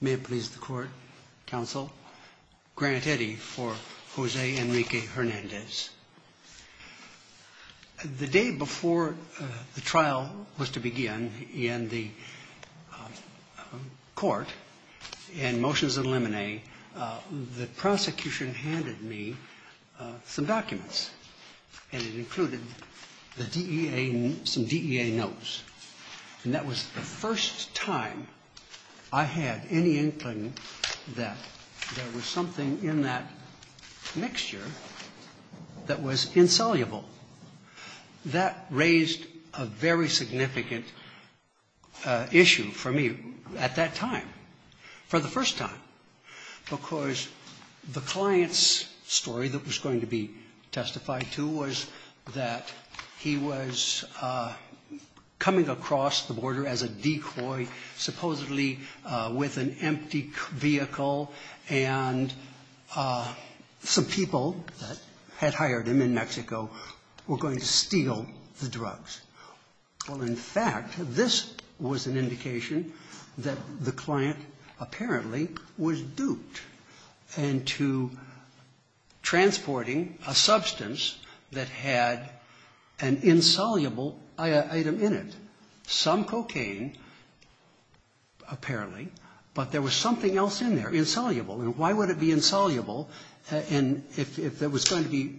May it please the Court, Counsel, Grant Eddy for Jose Enrique Hernandez. The day before the trial was to begin in the court in motions of limine, the prosecution handed me some documents, and it included the DEA, some DEA notes. And that was the first time I had any inkling that there was something in that mixture that was insoluble. That raised a very significant issue for me at that time, for the first time, because the client's story that was going to be testified to was that he was coming across the border as a decoy, supposedly with an empty vehicle, and some people that had hired him in Mexico were going to steal the drugs. Well, in fact, this was an indication that the client apparently was duped into transporting a substance that had an insoluble item in it. Some cocaine, apparently, but there was something else in there, insoluble. And why would it be insoluble if it was going to be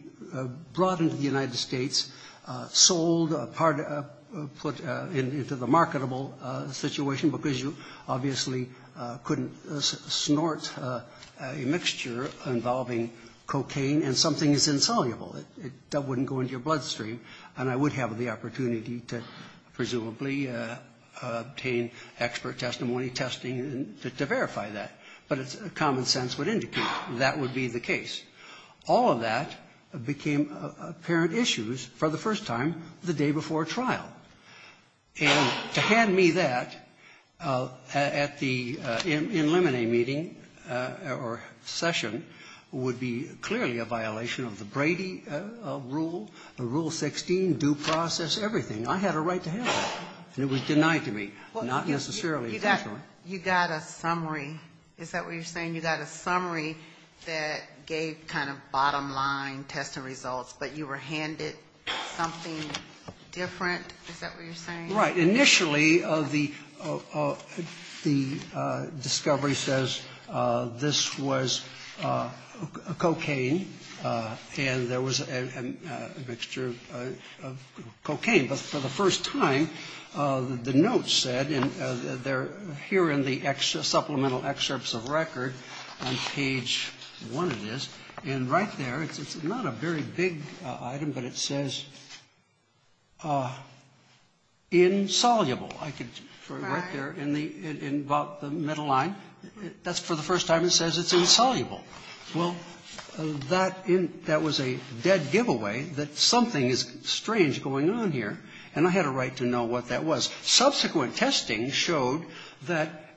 brought into the United States, sold, put into the marketable situation, because you obviously couldn't snort a mixture involving cocaine, and something is insoluble. That wouldn't go into your bloodstream, and I would have the opportunity to presumably obtain expert testimony, testing, to verify that. But common sense would indicate that would be the case. All of that became apparent issues for the first time the day before trial. And to hand me that at the in limine meeting or session would be clearly a violation of the Brady rule, Rule 16, due process, everything. I had a right to handle it, and it was denied to me, not necessarily officially. You got a summary. Is that what you're saying? You got a summary that gave kind of bottom line testing results, but you were handed something different. Is that what you're saying? Right. Initially, the discovery says this was cocaine, and there was a mixture of cocaine. But for the first time, the notes said, and they're here in the supplemental excerpts of record on page 1 of this. And right there, it's not a very big item, but it says insoluble. Right. Right there in about the middle line. That's for the first time it says it's insoluble. Well, that was a dead giveaway that something is strange going on here. And I had a right to know what that was. Subsequent testing showed that,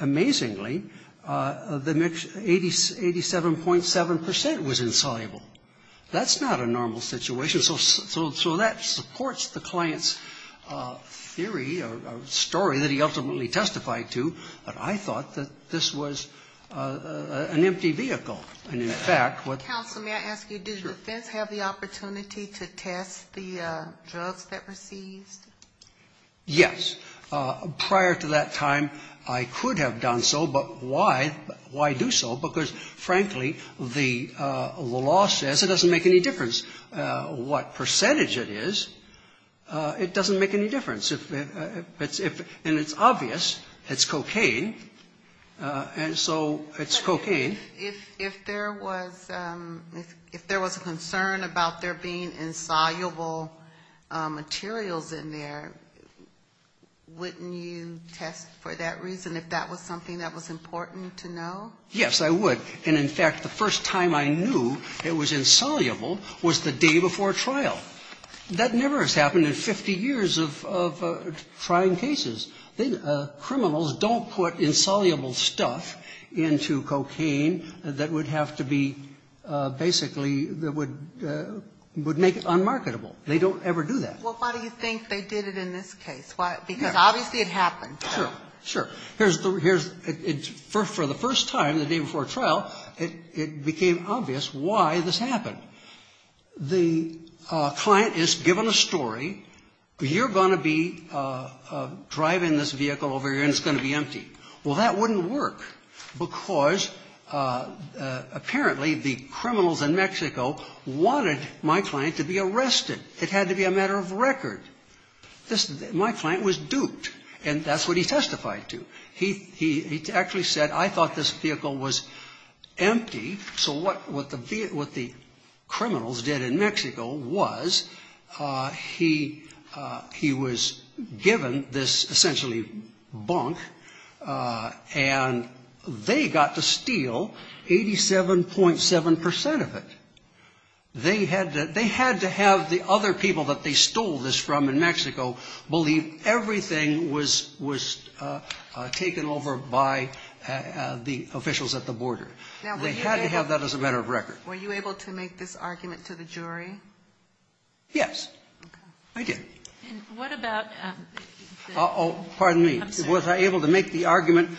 amazingly, the mixture, 87.7 percent was insoluble. That's not a normal situation. So that supports the client's theory or story that he ultimately testified to. But I thought that this was an empty vehicle. And, in fact, what the law says, it doesn't make any difference what percentage it is, it doesn't make any difference. And it's obvious it's cocaine. And so it's cocaine. If there was a concern about there being insoluble materials in there, wouldn't you test for that reason, if that was something that was important to know? Yes, I would. And, in fact, the first time I knew it was insoluble was the day before trial. That never has happened in 50 years of trying cases. Criminals don't put insoluble stuff into cocaine that would have to be basically that would make it unmarketable. They don't ever do that. Well, why do you think they did it in this case? Because obviously it happened. Sure. Sure. For the first time, the day before trial, it became obvious why this happened. The client is given a story. You're going to be driving this vehicle over here, and it's going to be empty. Well, that wouldn't work, because apparently the criminals in Mexico wanted my client to be arrested. It had to be a matter of record. My client was duped, and that's what he testified to. He actually said, I thought this vehicle was empty. So what the criminals did in Mexico was he was given this essentially bunk, and they got to steal 87.7% of it. They had to have the other people that they stole this from in Mexico believe everything was taken over by the officials at the border. They had to have that as a matter of record. Now, were you able to make this argument to the jury? Yes, I did. And what about the upset? Oh, pardon me. Was I able to make the argument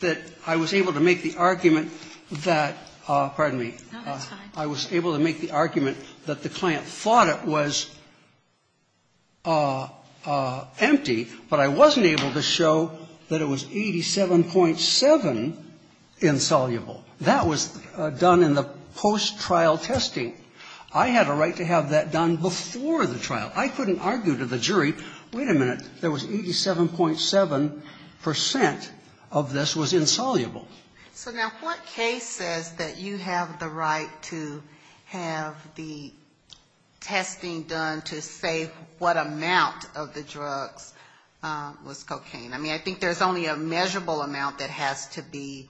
that I was able to make the argument that the client thought it was empty, but I wasn't able to show that it was 87.7 insoluble? That was done in the post-trial testing. I had a right to have that done before the trial. I couldn't argue to the jury, wait a minute, there was 87.7% of this was insoluble. So now what case says that you have the right to have the testing done to say what amount of the drugs was cocaine? I mean, I think there's only a measurable amount that has to be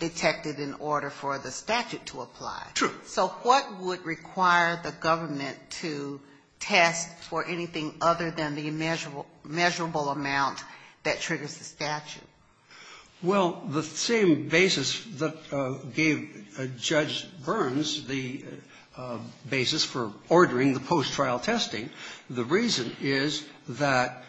detected in order for the statute to apply. True. So what would require the government to test for anything other than the measurable amount that triggers the statute? Well, the same basis that gave Judge Burns the basis for ordering the post-trial testing, the reason is that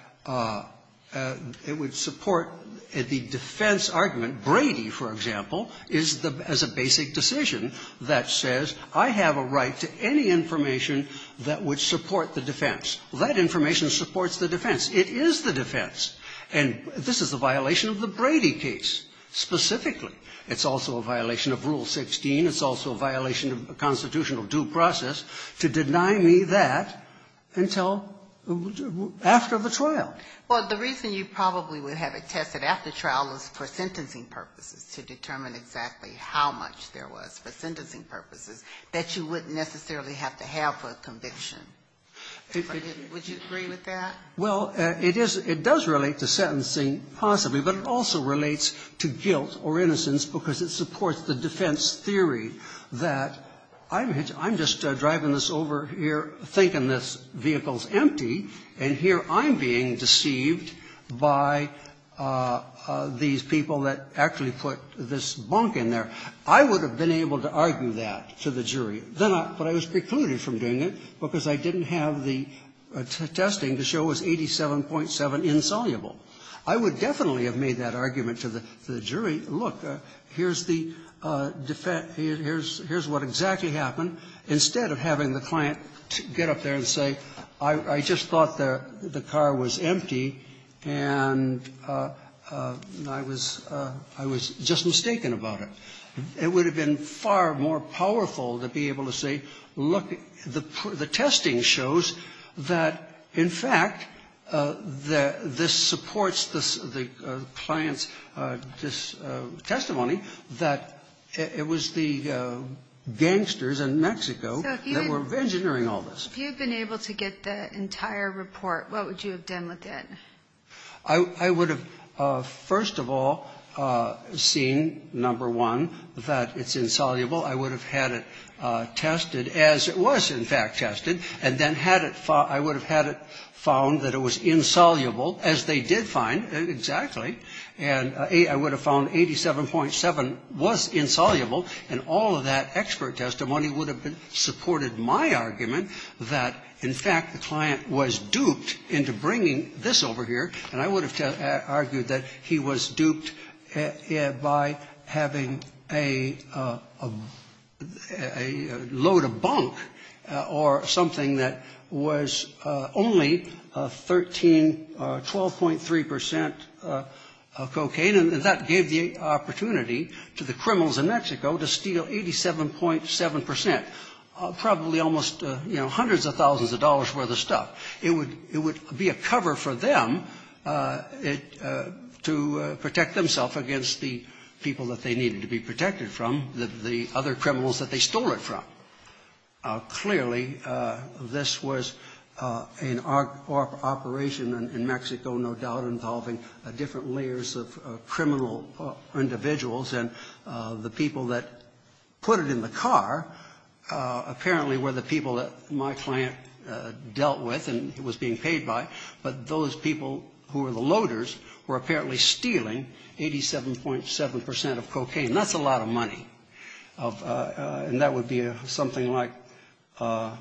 it would support the defense argument. Brady, for example, is the as a basic decision that says I have a right to any information that would support the defense. That information supports the defense. It is the defense. And this is a violation of the Brady case specifically. It's also a violation of Rule 16. It's also a violation of a constitutional due process to deny me that until after the trial. Well, the reason you probably would have it tested after trial is for sentencing purposes, to determine exactly how much there was for sentencing purposes that you wouldn't necessarily have to have for a conviction. Would you agree with that? Well, it is – it does relate to sentencing possibly, but it also relates to guilt or innocence because it supports the defense theory that I'm just driving this over here thinking this vehicle's empty, and here I'm being deceived by these people that actually put this bunk in there. I would have been able to argue that to the jury, but I was precluded from doing it because I didn't have the testing to show it was 87.7 insoluble. I would definitely have made that argument to the jury, look, here's the defense – here's what exactly happened, instead of having the client get up there and say, I just thought the car was empty, and I was – I was just mistaken about it. It would have been far more powerful to be able to say, look, the testing that you did, the testing shows that, in fact, this supports the client's testimony that it was the gangsters in Mexico that were engineering all this. So if you had been able to get the entire report, what would you have done with it? I would have, first of all, seen, number one, that it's insoluble. I would have had it tested as it was, in fact, tested, and then had it – I would have had it found that it was insoluble, as they did find, exactly, and I would have found 87.7 was insoluble, and all of that expert testimony would have supported my argument that, in fact, the client was duped into bringing this over here, and I would have argued that he was duped by having a load of bunk or something that was only 13, 12.3 percent cocaine, and that gave the opportunity to the criminals in Mexico to steal 87.7 percent, probably almost, you know, hundreds of thousands of dollars' worth of stuff. It would be a cover for them to protect themselves against the people that they needed to be protected from, the other criminals that they stole it from. Clearly, this was an operation in Mexico, no doubt, involving different layers of criminal individuals, and the people that put it in the car apparently were the people that my client dealt with and was being paid by, but those people who were the loaders were apparently stealing 87.7 percent of cocaine. That's a lot of money, and that would be something like a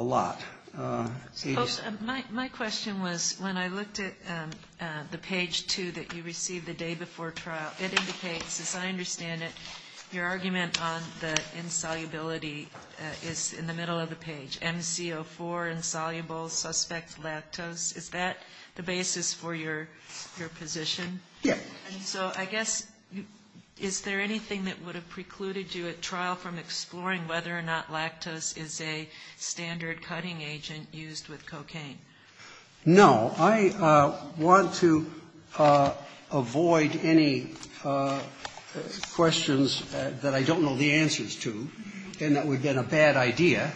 lot. My question was, when I looked at the page two that you received the day before trial, it indicates, as I understand it, your argument on the insolubility is in the middle of the page. MC04, insoluble, suspect lactose. Is that the basis for your position? Yes. And so I guess, is there anything that would have precluded you at trial from exploring whether or not lactose is a standard cutting agent used with cocaine? Well, there are questions that I don't know the answers to, and that would have been a bad idea,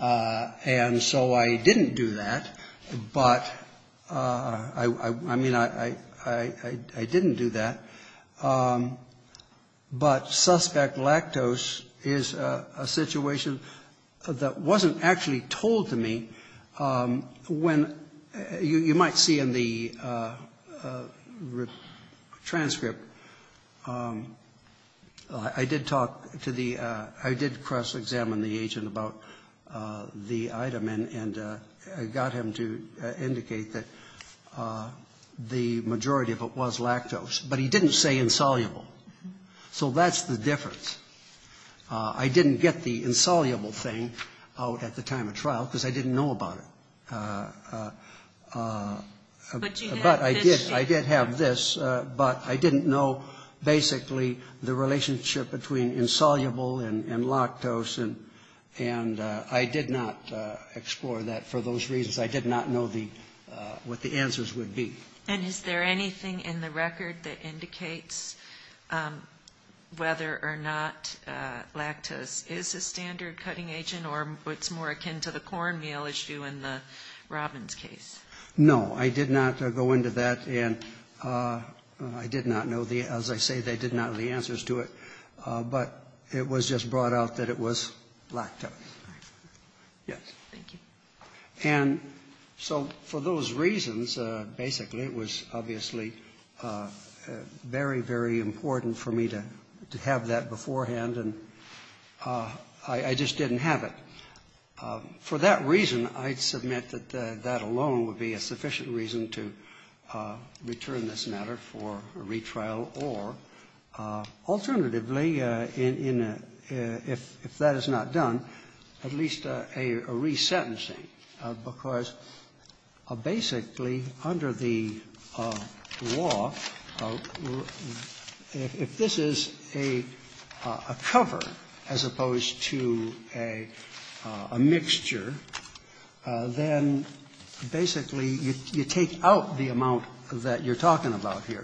and so I didn't do that, but I mean, I didn't do that. But suspect lactose is a situation that wasn't actually told to me when, you might see in the transcript, I did talk to the, I did cross-examine the agent about the item, and I got him to indicate that the majority of it was lactose, but he didn't say insoluble. So that's the difference. I didn't get the insoluble thing out at the time of trial, because I didn't know about it. But I did have this, but I didn't know basically the relationship between insoluble and lactose, and I did not explore that for those reasons. I did not know what the answers would be. And is there anything in the record that indicates whether or not lactose is a standard cutting agent, or it's more akin to the cornmeal issue in the Robbins case? No, I did not go into that, and I did not know the, as I say, they did not know the answers to it, but it was just brought out that it was lactose. Yes. Thank you. And so for those reasons, basically, it was obviously very, very important for me to have that beforehand, and I just didn't have it. For that reason, I'd submit that that alone would be a sufficient reason to return this matter for a retrial, or alternatively, in a, if that is not done, at least a resentencing because basically under the law, if this is a cover as opposed to a mixture, then basically you take out the amount that you're talking about here.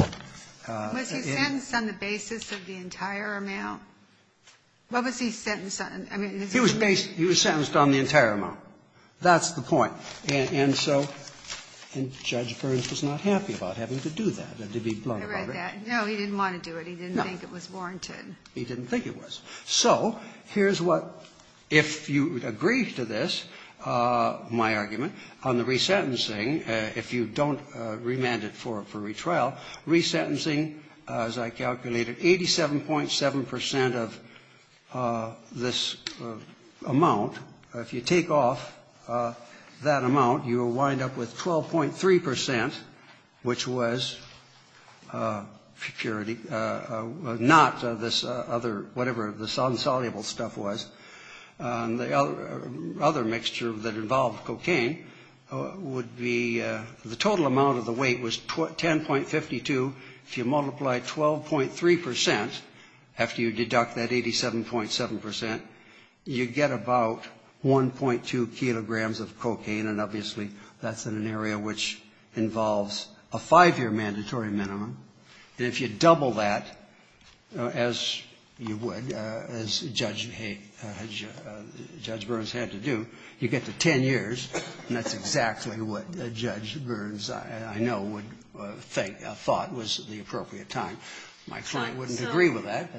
Was he sentenced on the basis of the entire amount? What was he sentenced on? He was sentenced on the entire amount. That's the point. And so Judge Burns was not happy about having to do that, to be blunt about it. I read that. No, he didn't want to do it. No. He didn't think it was warranted. He didn't think it was. So here's what, if you agree to this, my argument, on the resentencing, if you don't remand it for a retrial, resentencing, as I calculated, 87.7 percent of this case would have been this amount. If you take off that amount, you will wind up with 12.3 percent, which was security, not this other, whatever this unsoluble stuff was. The other mixture that involved cocaine would be, the total amount of the weight was 10.52. If you multiply 12.3 percent, after you deduct that 87.7 percent, you get about 1.2 kilograms of cocaine. And obviously that's in an area which involves a five-year mandatory minimum. And if you double that, as you would, as Judge Burns had to do, you get to 10 years. And that's exactly what Judge Burns, I know, would think, thought was the appropriate time. My client wouldn't agree with that.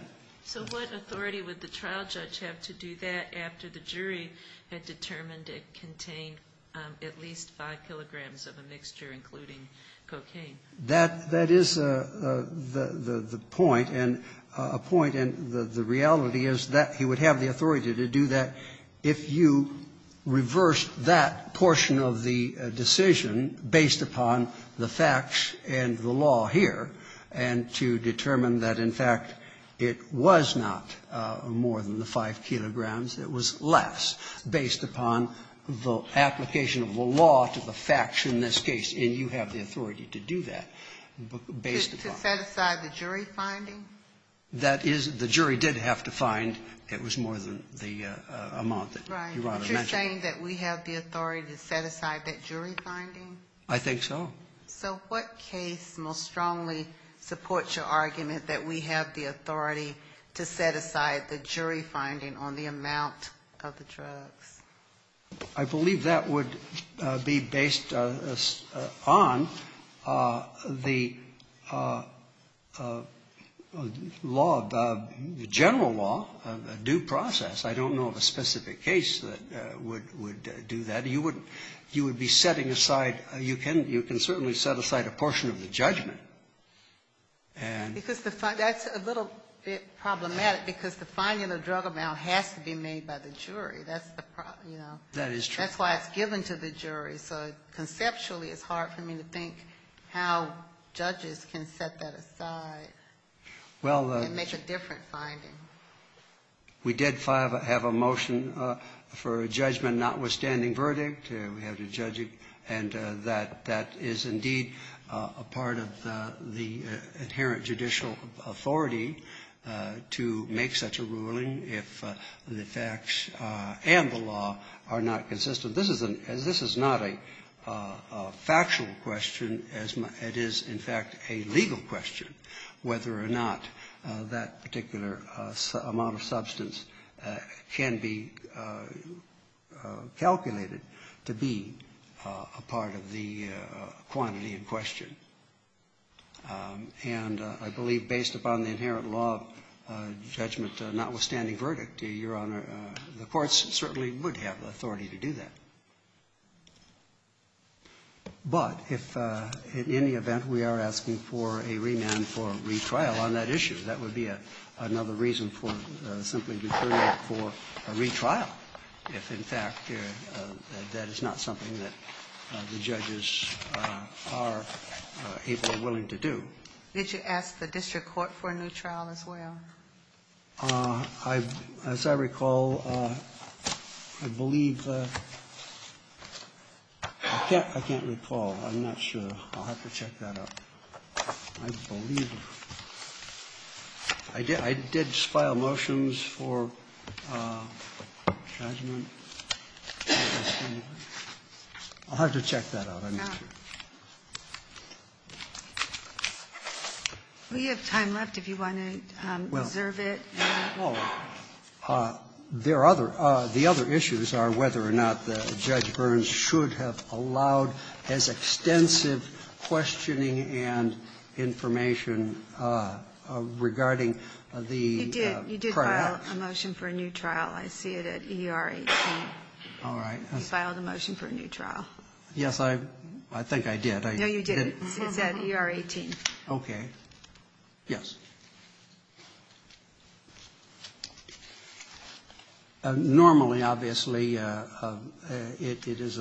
So what authority would the trial judge have to do that after the jury had determined it contained at least 5 kilograms of a mixture, including cocaine? That is the point, and a point, and the reality is that he would have the authority to do that if you reversed that portion of the decision based upon the facts and the law here, and to determine that, in fact, it was not more than the 5 kilograms, it was less, based upon the application of the law to the facts in this case. And you have the authority to do that based upon that. To set aside the jury finding? That is, the jury did have to find it was more than the amount that you want to mention. Right. You're saying that we have the authority to set aside that jury finding? I think so. So what case most strongly supports your argument that we have the authority to set aside the jury finding on the amount of the drugs? I believe that would be based on the law, the general law, due process. I don't know of a specific case that would do that. You would be setting aside, you can certainly set aside a portion of the judgment. And the fact that's a little bit problematic because the finding of the drug amount has to be made by the jury. That's the problem, you know. That is true. That's why it's given to the jury. So conceptually, it's hard for me to think how judges can set that aside and make a different finding. Well, we did have a motion for a judgment notwithstanding verdict. We have to judge it. And that is indeed a part of the inherent judicial authority to make such a ruling if the facts and the law are not consistent. This is not a factual question. It is, in fact, a legal question whether or not that particular amount of substance can be calculated to be a part of the quantity in question. And I believe based upon the inherent law of judgment notwithstanding verdict, Your Honor, the courts certainly would have authority to do that. But if in any event we are asking for a remand for retrial on that issue, that would be another reason for simply deferring for a retrial if, in fact, that is not something that the judges are able or willing to do. Did you ask the district court for a new trial as well? As I recall, I believe I can't recall. I'm not sure. I'll have to check that up. I believe I did file motions for judgment. I'll have to check that out. We have time left if you want to reserve it. The other issues are whether or not Judge Burns should have allowed as extensive questioning and information regarding the prior act. You did file a motion for a new trial. I see it at ER 18. All right. You filed a motion for a new trial. Yes, I think I did. No, you didn't. It's at ER 18. Okay. Yes. Normally, obviously, it is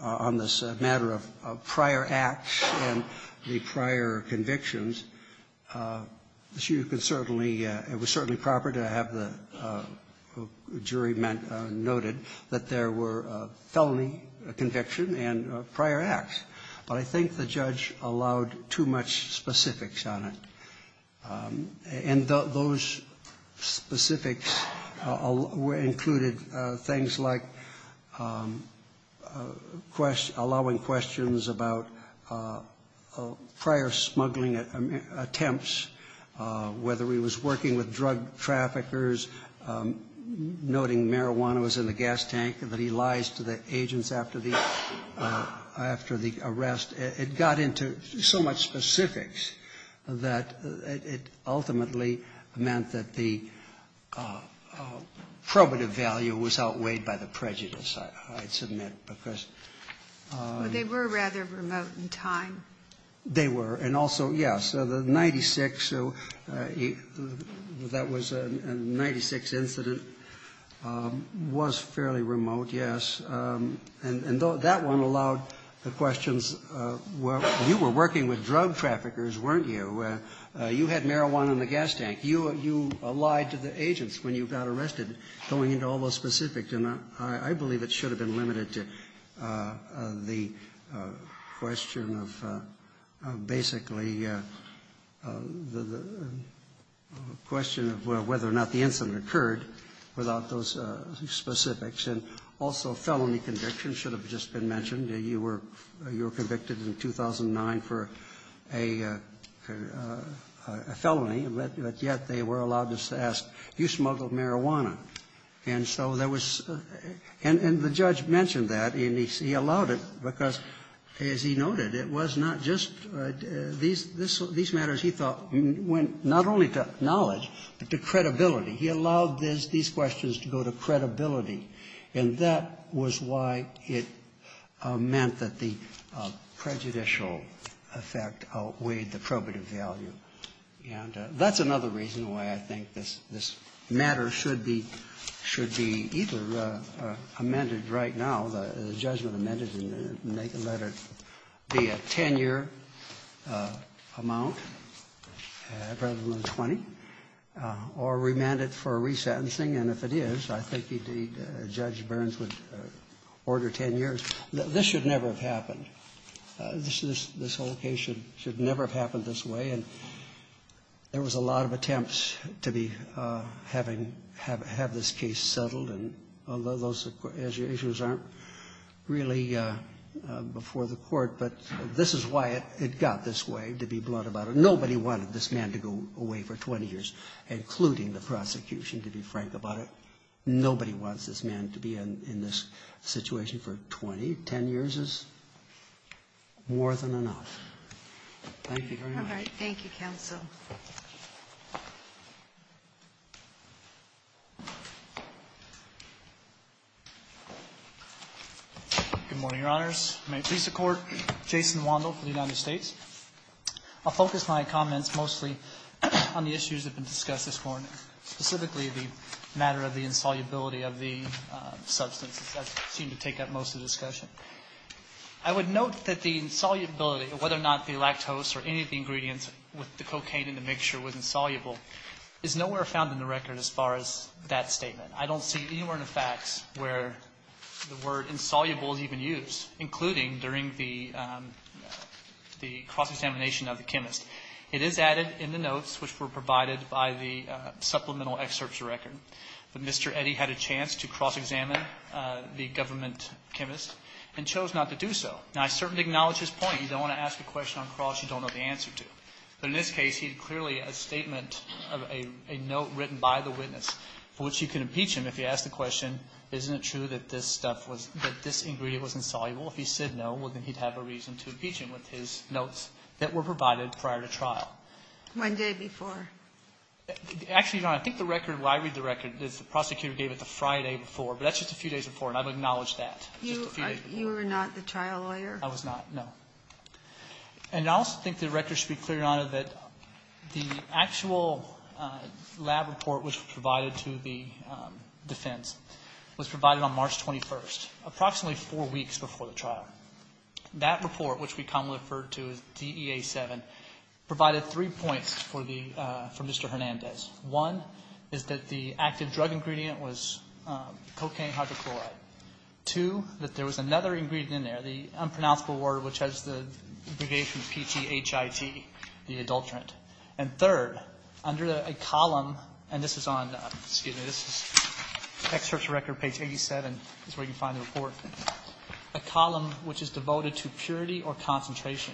on this matter of prior acts and the prior convictions. You can certainly, it was certainly proper to have the jury noted that there were felony conviction and prior acts. But I think the judge allowed too much specifics on it. And those specifics included things like allowing questions about prior smuggling attempts, whether he was working with drug traffickers, noting marijuana was in the agents after the arrest. It got into so much specifics that it ultimately meant that the probative value was outweighed by the prejudice, I'd submit. Because they were rather remote in time. They were. And also, yes, the 96, that was a 96 incident, was fairly remote, yes. And that one allowed the questions, well, you were working with drug traffickers, weren't you? You had marijuana in the gas tank. You lied to the agents when you got arrested, going into all those specifics. And I believe it should have been limited to the question of basically the question of whether or not the incident occurred without those specifics. And also felony conviction should have just been mentioned. You were convicted in 2009 for a felony, but yet they were allowed to ask, you smuggled marijuana. And so there was the judge mentioned that, and he allowed it because, as he noted, it was not just these matters he thought went not only to knowledge, but to credibility. He allowed these questions to go to credibility. And that was why it meant that the prejudicial effect outweighed the probative value. And that's another reason why I think this matter should be either amended right now, the judgment amended, and make it let it be a 10-year amount rather than a 20, or remand it for a re-sentencing. And if it is, I think Judge Burns would order 10 years. This should never have happened. This whole case should never have happened this way. And there was a lot of attempts to have this case settled, although those issues aren't really before the court. But this is why it got this way, to be blunt about it. Nobody wanted this man to go away for 20 years, including the prosecution, to be frank about it. Nobody wants this man to be in this situation for 20, 10 years is more than enough. Thank you very much. All right. Thank you, counsel. Good morning, Your Honors. May it please the Court. Jason Wandel for the United States. I'll focus my comments mostly on the issues that have been discussed this morning, specifically the matter of the insolubility of the substance. That seemed to take up most of the discussion. I would note that the insolubility, whether or not the lactose or any of the ingredients with the cocaine in the mixture was insoluble, is nowhere found in the record as far as that statement. I don't see anywhere in the facts where the word insoluble is even used, including during the cross-examination of the chemist. It is added in the notes which were provided by the supplemental excerpts record that Mr. Eddy had a chance to cross-examine the government chemist and chose not to do so. Now, I certainly acknowledge his point. You don't want to ask a question on cross you don't know the answer to. But in this case, he had clearly a statement of a note written by the witness for which you can impeach him if you ask the question, isn't it true that this ingredient was insoluble? If he said no, well, then he'd have a reason to impeach him with his notes that were provided prior to trial. One day before. Actually, Your Honor, I think the record where I read the record is the prosecutor gave it the Friday before, but that's just a few days before, and I've acknowledged that. You were not the trial lawyer? I was not, no. And I also think the record should be cleared, Your Honor, that the actual lab report which was provided to the defense was provided on March 21st, approximately four weeks before the trial. That report, which we commonly refer to as DEA-7, provided three points for the Mr. Hernandez. One is that the active drug ingredient was cocaine hydrochloride. Two, that there was another ingredient in there, the unpronounceable word which has the abbreviation PGHIG, the adulterant. And third, under a column, and this is on, excuse me, this is experts record page 87 is where you can find the report, a column which is devoted to purity or concentration,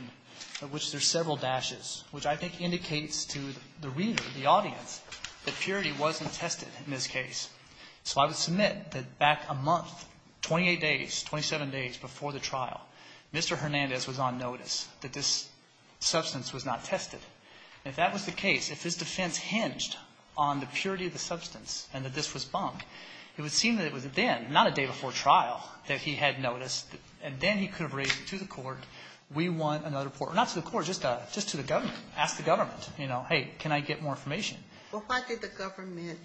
of which there's several dashes, which I think indicates to the reader, the audience, that purity wasn't tested in this case. So I would submit that back a month, 28 days, 27 days before the trial, Mr. Hernandez was on notice that this substance was not tested. And if that was the case, if his defense hinged on the purity of the substance and that this was bunk, it would seem that it was then, not a day before trial, that he had noticed and then he could have raised it to the court. We want another report. Not to the court, just to the government. Ask the government, you know, hey, can I get more information? Well, why did the government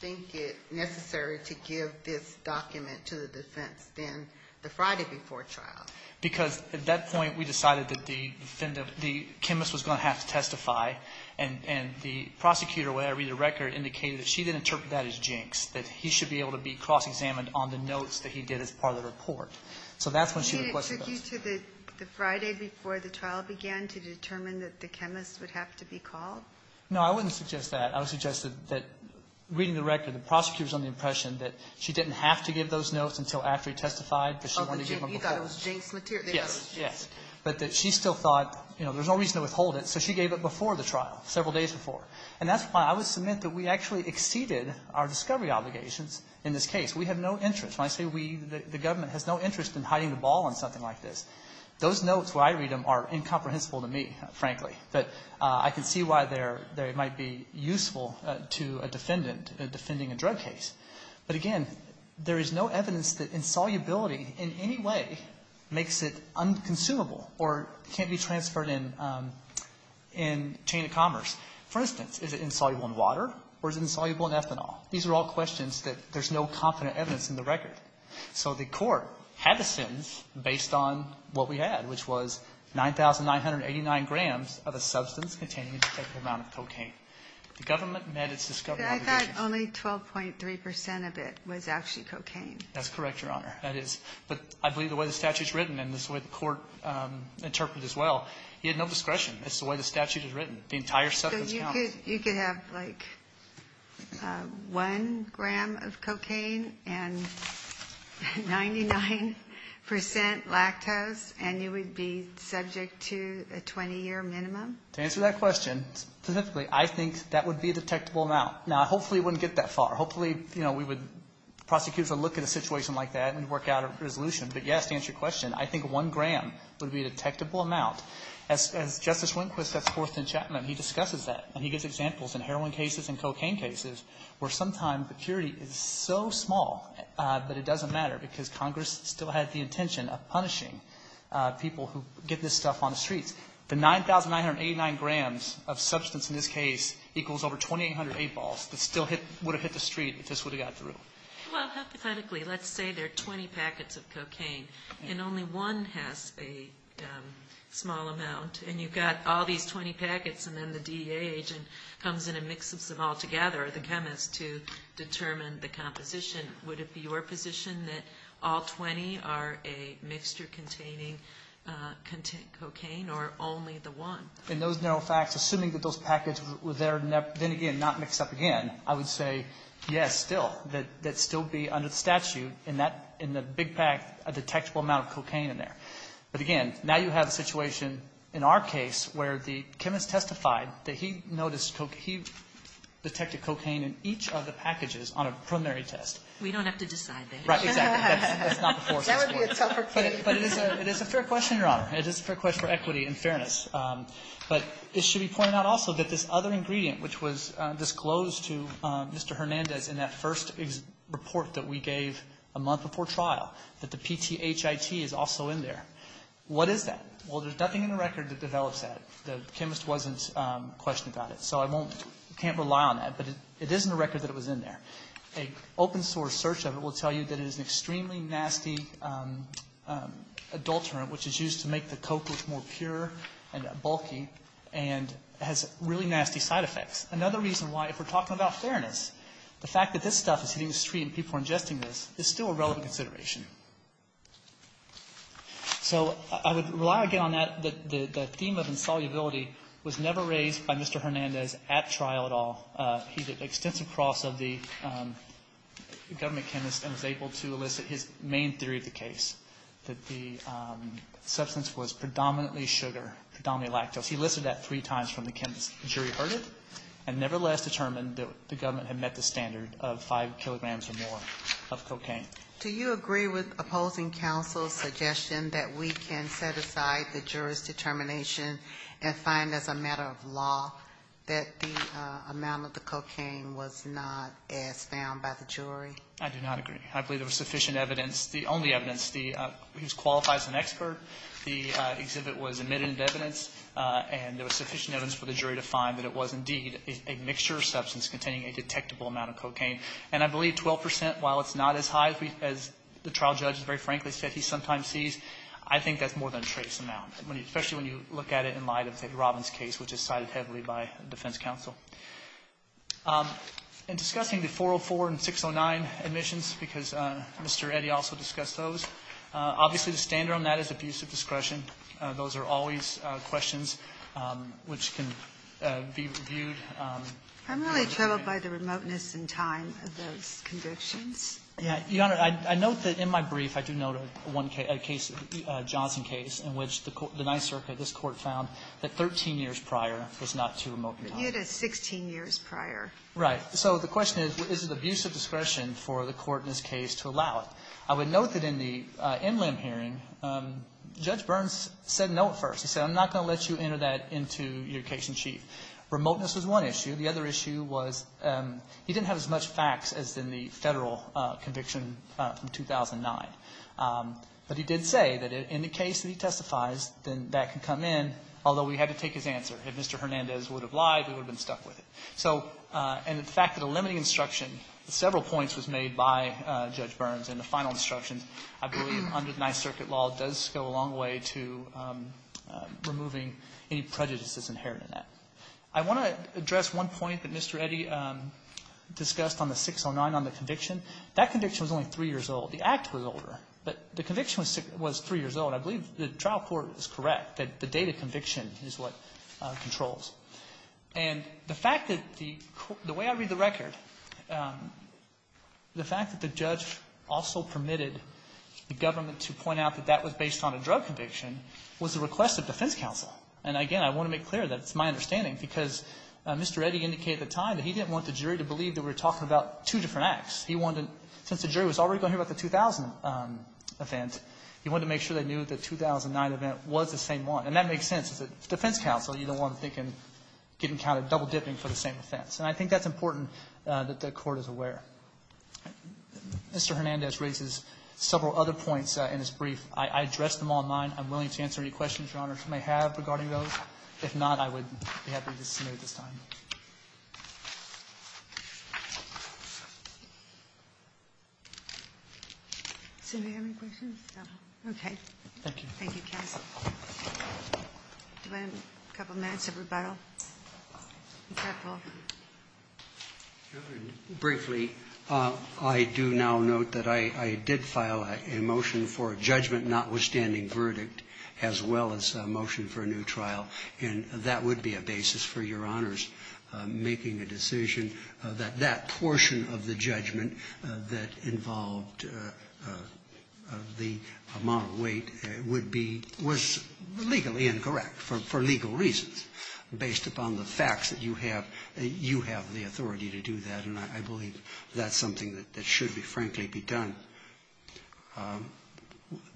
think it necessary to give this document to the defense then the Friday before trial? Because at that point we decided that the chemist was going to have to testify and the prosecutor, when I read the record, indicated that she didn't interpret that as jinx, that he should be able to be cross-examined on the notes that he did as part of the report. So that's when she requested those. And she took you to the Friday before the trial began to determine that the chemist would have to be called? No, I wouldn't suggest that. I would suggest that, reading the record, the prosecutor was under the impression that she didn't have to give those notes until after he testified because she wanted to give them before. Oh, you thought it was jinx material. Yes, yes. But that she still thought, you know, there's no reason to withhold it, so she gave it before the trial, several days before. And that's why I would submit that we actually exceeded our discovery obligations in this case. We have no interest. When I say we, the government has no interest in hiding the ball on something like this, those notes where I read them are incomprehensible to me, frankly. But I can see why they might be useful to a defendant defending a drug case. But again, there is no evidence that insolubility in any way makes it unconsumable or can't be transferred in chain of commerce. For instance, is it insoluble in water or is it insoluble in ethanol? These are all questions that there's no confident evidence in the record. So the Court had a sentence based on what we had, which was 9,989 grams of a substance containing a particular amount of cocaine. The government met its discovery obligations. But I thought only 12.3 percent of it was actually cocaine. That's correct, Your Honor. That is. But I believe the way the statute is written, and this is the way the Court interpreted it as well, he had no discretion. That's the way the statute is written. The entire substance counts. So you could have, like, one gram of cocaine and 99 percent lactose and you would be subject to a 20-year minimum? To answer that question, specifically, I think that would be a detectable amount. Now, hopefully it wouldn't get that far. Hopefully, you know, we would, prosecutors would look at a situation like that and work out a resolution. But, yes, to answer your question, I think one gram would be a detectable amount. As Justice Lindquist has forthed in Chapman, he discusses that and he gives examples in heroin cases and cocaine cases where sometimes the purity is so small that it doesn't matter because Congress still had the intention of punishing people who get this stuff on the streets. The 9,989 grams of substance in this case equals over 2,800 8-balls that still would have hit the street if this would have got through. Well, hypothetically, let's say there are 20 packets of cocaine and only one has a small amount and you've got all these 20 packets and then the DEA agent comes in and mixes them all together, the chemist, to determine the composition. Would it be your position that all 20 are a mixture containing cocaine or only the one? In those narrow facts, assuming that those packets were there, then again, not mixed up again, I would say, yes, still, that it would still be under the statute in the big pack a detectable amount of cocaine in there. But, again, now you have a situation in our case where the chemist testified that he noticed cocaine. He detected cocaine in each of the packages on a primary test. We don't have to decide that. Right. Exactly. That's not the force at this point. That would be a tougher case. But it is a fair question, Your Honor. It is a fair question for equity and fairness. But it should be pointed out also that this other ingredient, which was disclosed to Mr. Hernandez in that first report that we gave a month before trial, that the PTHIT is also in there. What is that? Well, there's nothing in the record that develops that. The chemist wasn't questioned about it. So I can't rely on that. But it is in the record that it was in there. An open source search of it will tell you that it is an extremely nasty adulterant, which is used to make the coke look more pure and bulky, and has really nasty side effects. Another reason why, if we're talking about fairness, the fact that this stuff is hitting the street and people are ingesting this is still a relevant consideration. So I would rely again on that. The theme of insolubility was never raised by Mr. Hernandez at trial at all. He did extensive cross of the government chemist and was able to elicit his main theory of the case, that the substance was predominantly sugar, predominantly lactose. He listed that three times from the chemist. The jury heard it and nevertheless determined that the government had met the standard of 5 kilograms or more of cocaine. Do you agree with opposing counsel's suggestion that we can set aside the jury's determination and find as a matter of law that the amount of the cocaine was not as found by the jury? I do not agree. I believe there was sufficient evidence, the only evidence. He was qualified as an expert. The exhibit was admitted into evidence, and there was sufficient evidence for the jury to find that it was indeed a mixture of substance containing a detectable amount of cocaine. And I believe 12 percent, while it's not as high as the trial judge very frankly said he sometimes sees, I think that's more than a trace amount, especially when you look at it in light of the Robbins case, which is cited heavily by defense counsel. In discussing the 404 and 609 admissions, because Mr. Eddy also discussed those, obviously the standard on that is abuse of discretion. Those are always questions which can be reviewed. I'm really troubled by the remoteness in time of those convictions. Yeah. Your Honor, I note that in my brief I do note a one case, a case, a Johnson case, in which the Ninth Circuit, this Court, found that 13 years prior was not too It was 16 years prior. Right. So the question is, is it abuse of discretion for the Court in this case to allow it? I would note that in the NLM hearing, Judge Burns said no at first. He said, I'm not going to let you enter that into your case in chief. Remoteness was one issue. The other issue was he didn't have as much facts as in the Federal conviction from 2009. But he did say that in the case that he testifies, then that can come in, although we had to take his answer. If Mr. Hernandez would have lied, we would have been stuck with it. So, and the fact that a limiting instruction, several points was made by Judge Burns in the final instruction, I believe under the Ninth Circuit law does go a long way to removing any prejudices inherent in that. I want to address one point that Mr. Eddy discussed on the 609 on the conviction. That conviction was only 3 years old. The act was older. But the conviction was 3 years old. I believe the trial court is correct that the date of conviction is what controls. And the fact that the way I read the record, the fact that the judge also permitted the government to point out that that was based on a drug conviction was a request of defense counsel. And again, I want to make clear that it's my understanding, because Mr. Eddy indicated at the time that he didn't want the jury to believe that we were talking about two different acts. He wanted, since the jury was already going to hear about the 2000 event, he wanted to make sure they knew the 2009 event was the same one. And that makes sense. As a defense counsel, you don't want them thinking, getting counted double-dipping for the same offense. And I think that's important that the Court is aware. Mr. Hernandez raises several other points in his brief. I addressed them online. I'm willing to answer any questions Your Honor may have regarding those. If not, I would be happy to submit at this time. Do we have any questions? No. Okay. Thank you. Thank you, counsel. Do we have a couple minutes of rebuttal? Be careful. Briefly, I do now note that I did file a motion for a judgment notwithstanding verdict, as well as a motion for a new trial. And that would be a basis for Your Honors making a decision that that portion of the judgment that involved the amount of weight would be legally incorrect for legal reasons, based upon the facts that you have the authority to do that. And I believe that's something that should, frankly, be done.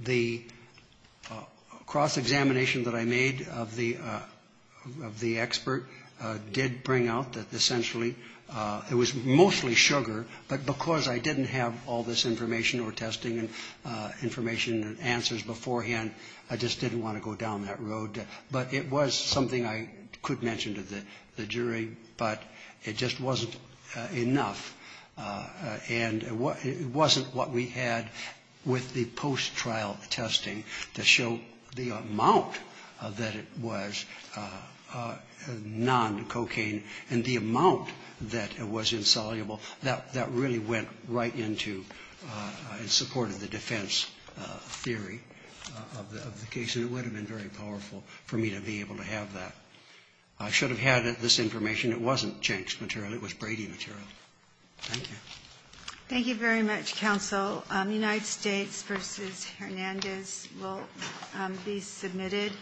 The cross-examination that I made of the expert did bring out that essentially it was mostly sugar, but because I didn't have all this information or testing and information and answers beforehand, I just didn't want to go down that road. But it was something I could mention to the jury, but it just wasn't enough. And it wasn't what we had with the post-trial testing to show the amount that it was non-cocaine, and the amount that it was insoluble, that really went right into and supported the defense theory of the case. And it would have been very powerful for me to be able to have that. I should have had this information. It wasn't Jenks material. It was Brady material. Thank you. Thank you very much, counsel. United States v. Hernandez will be submitted.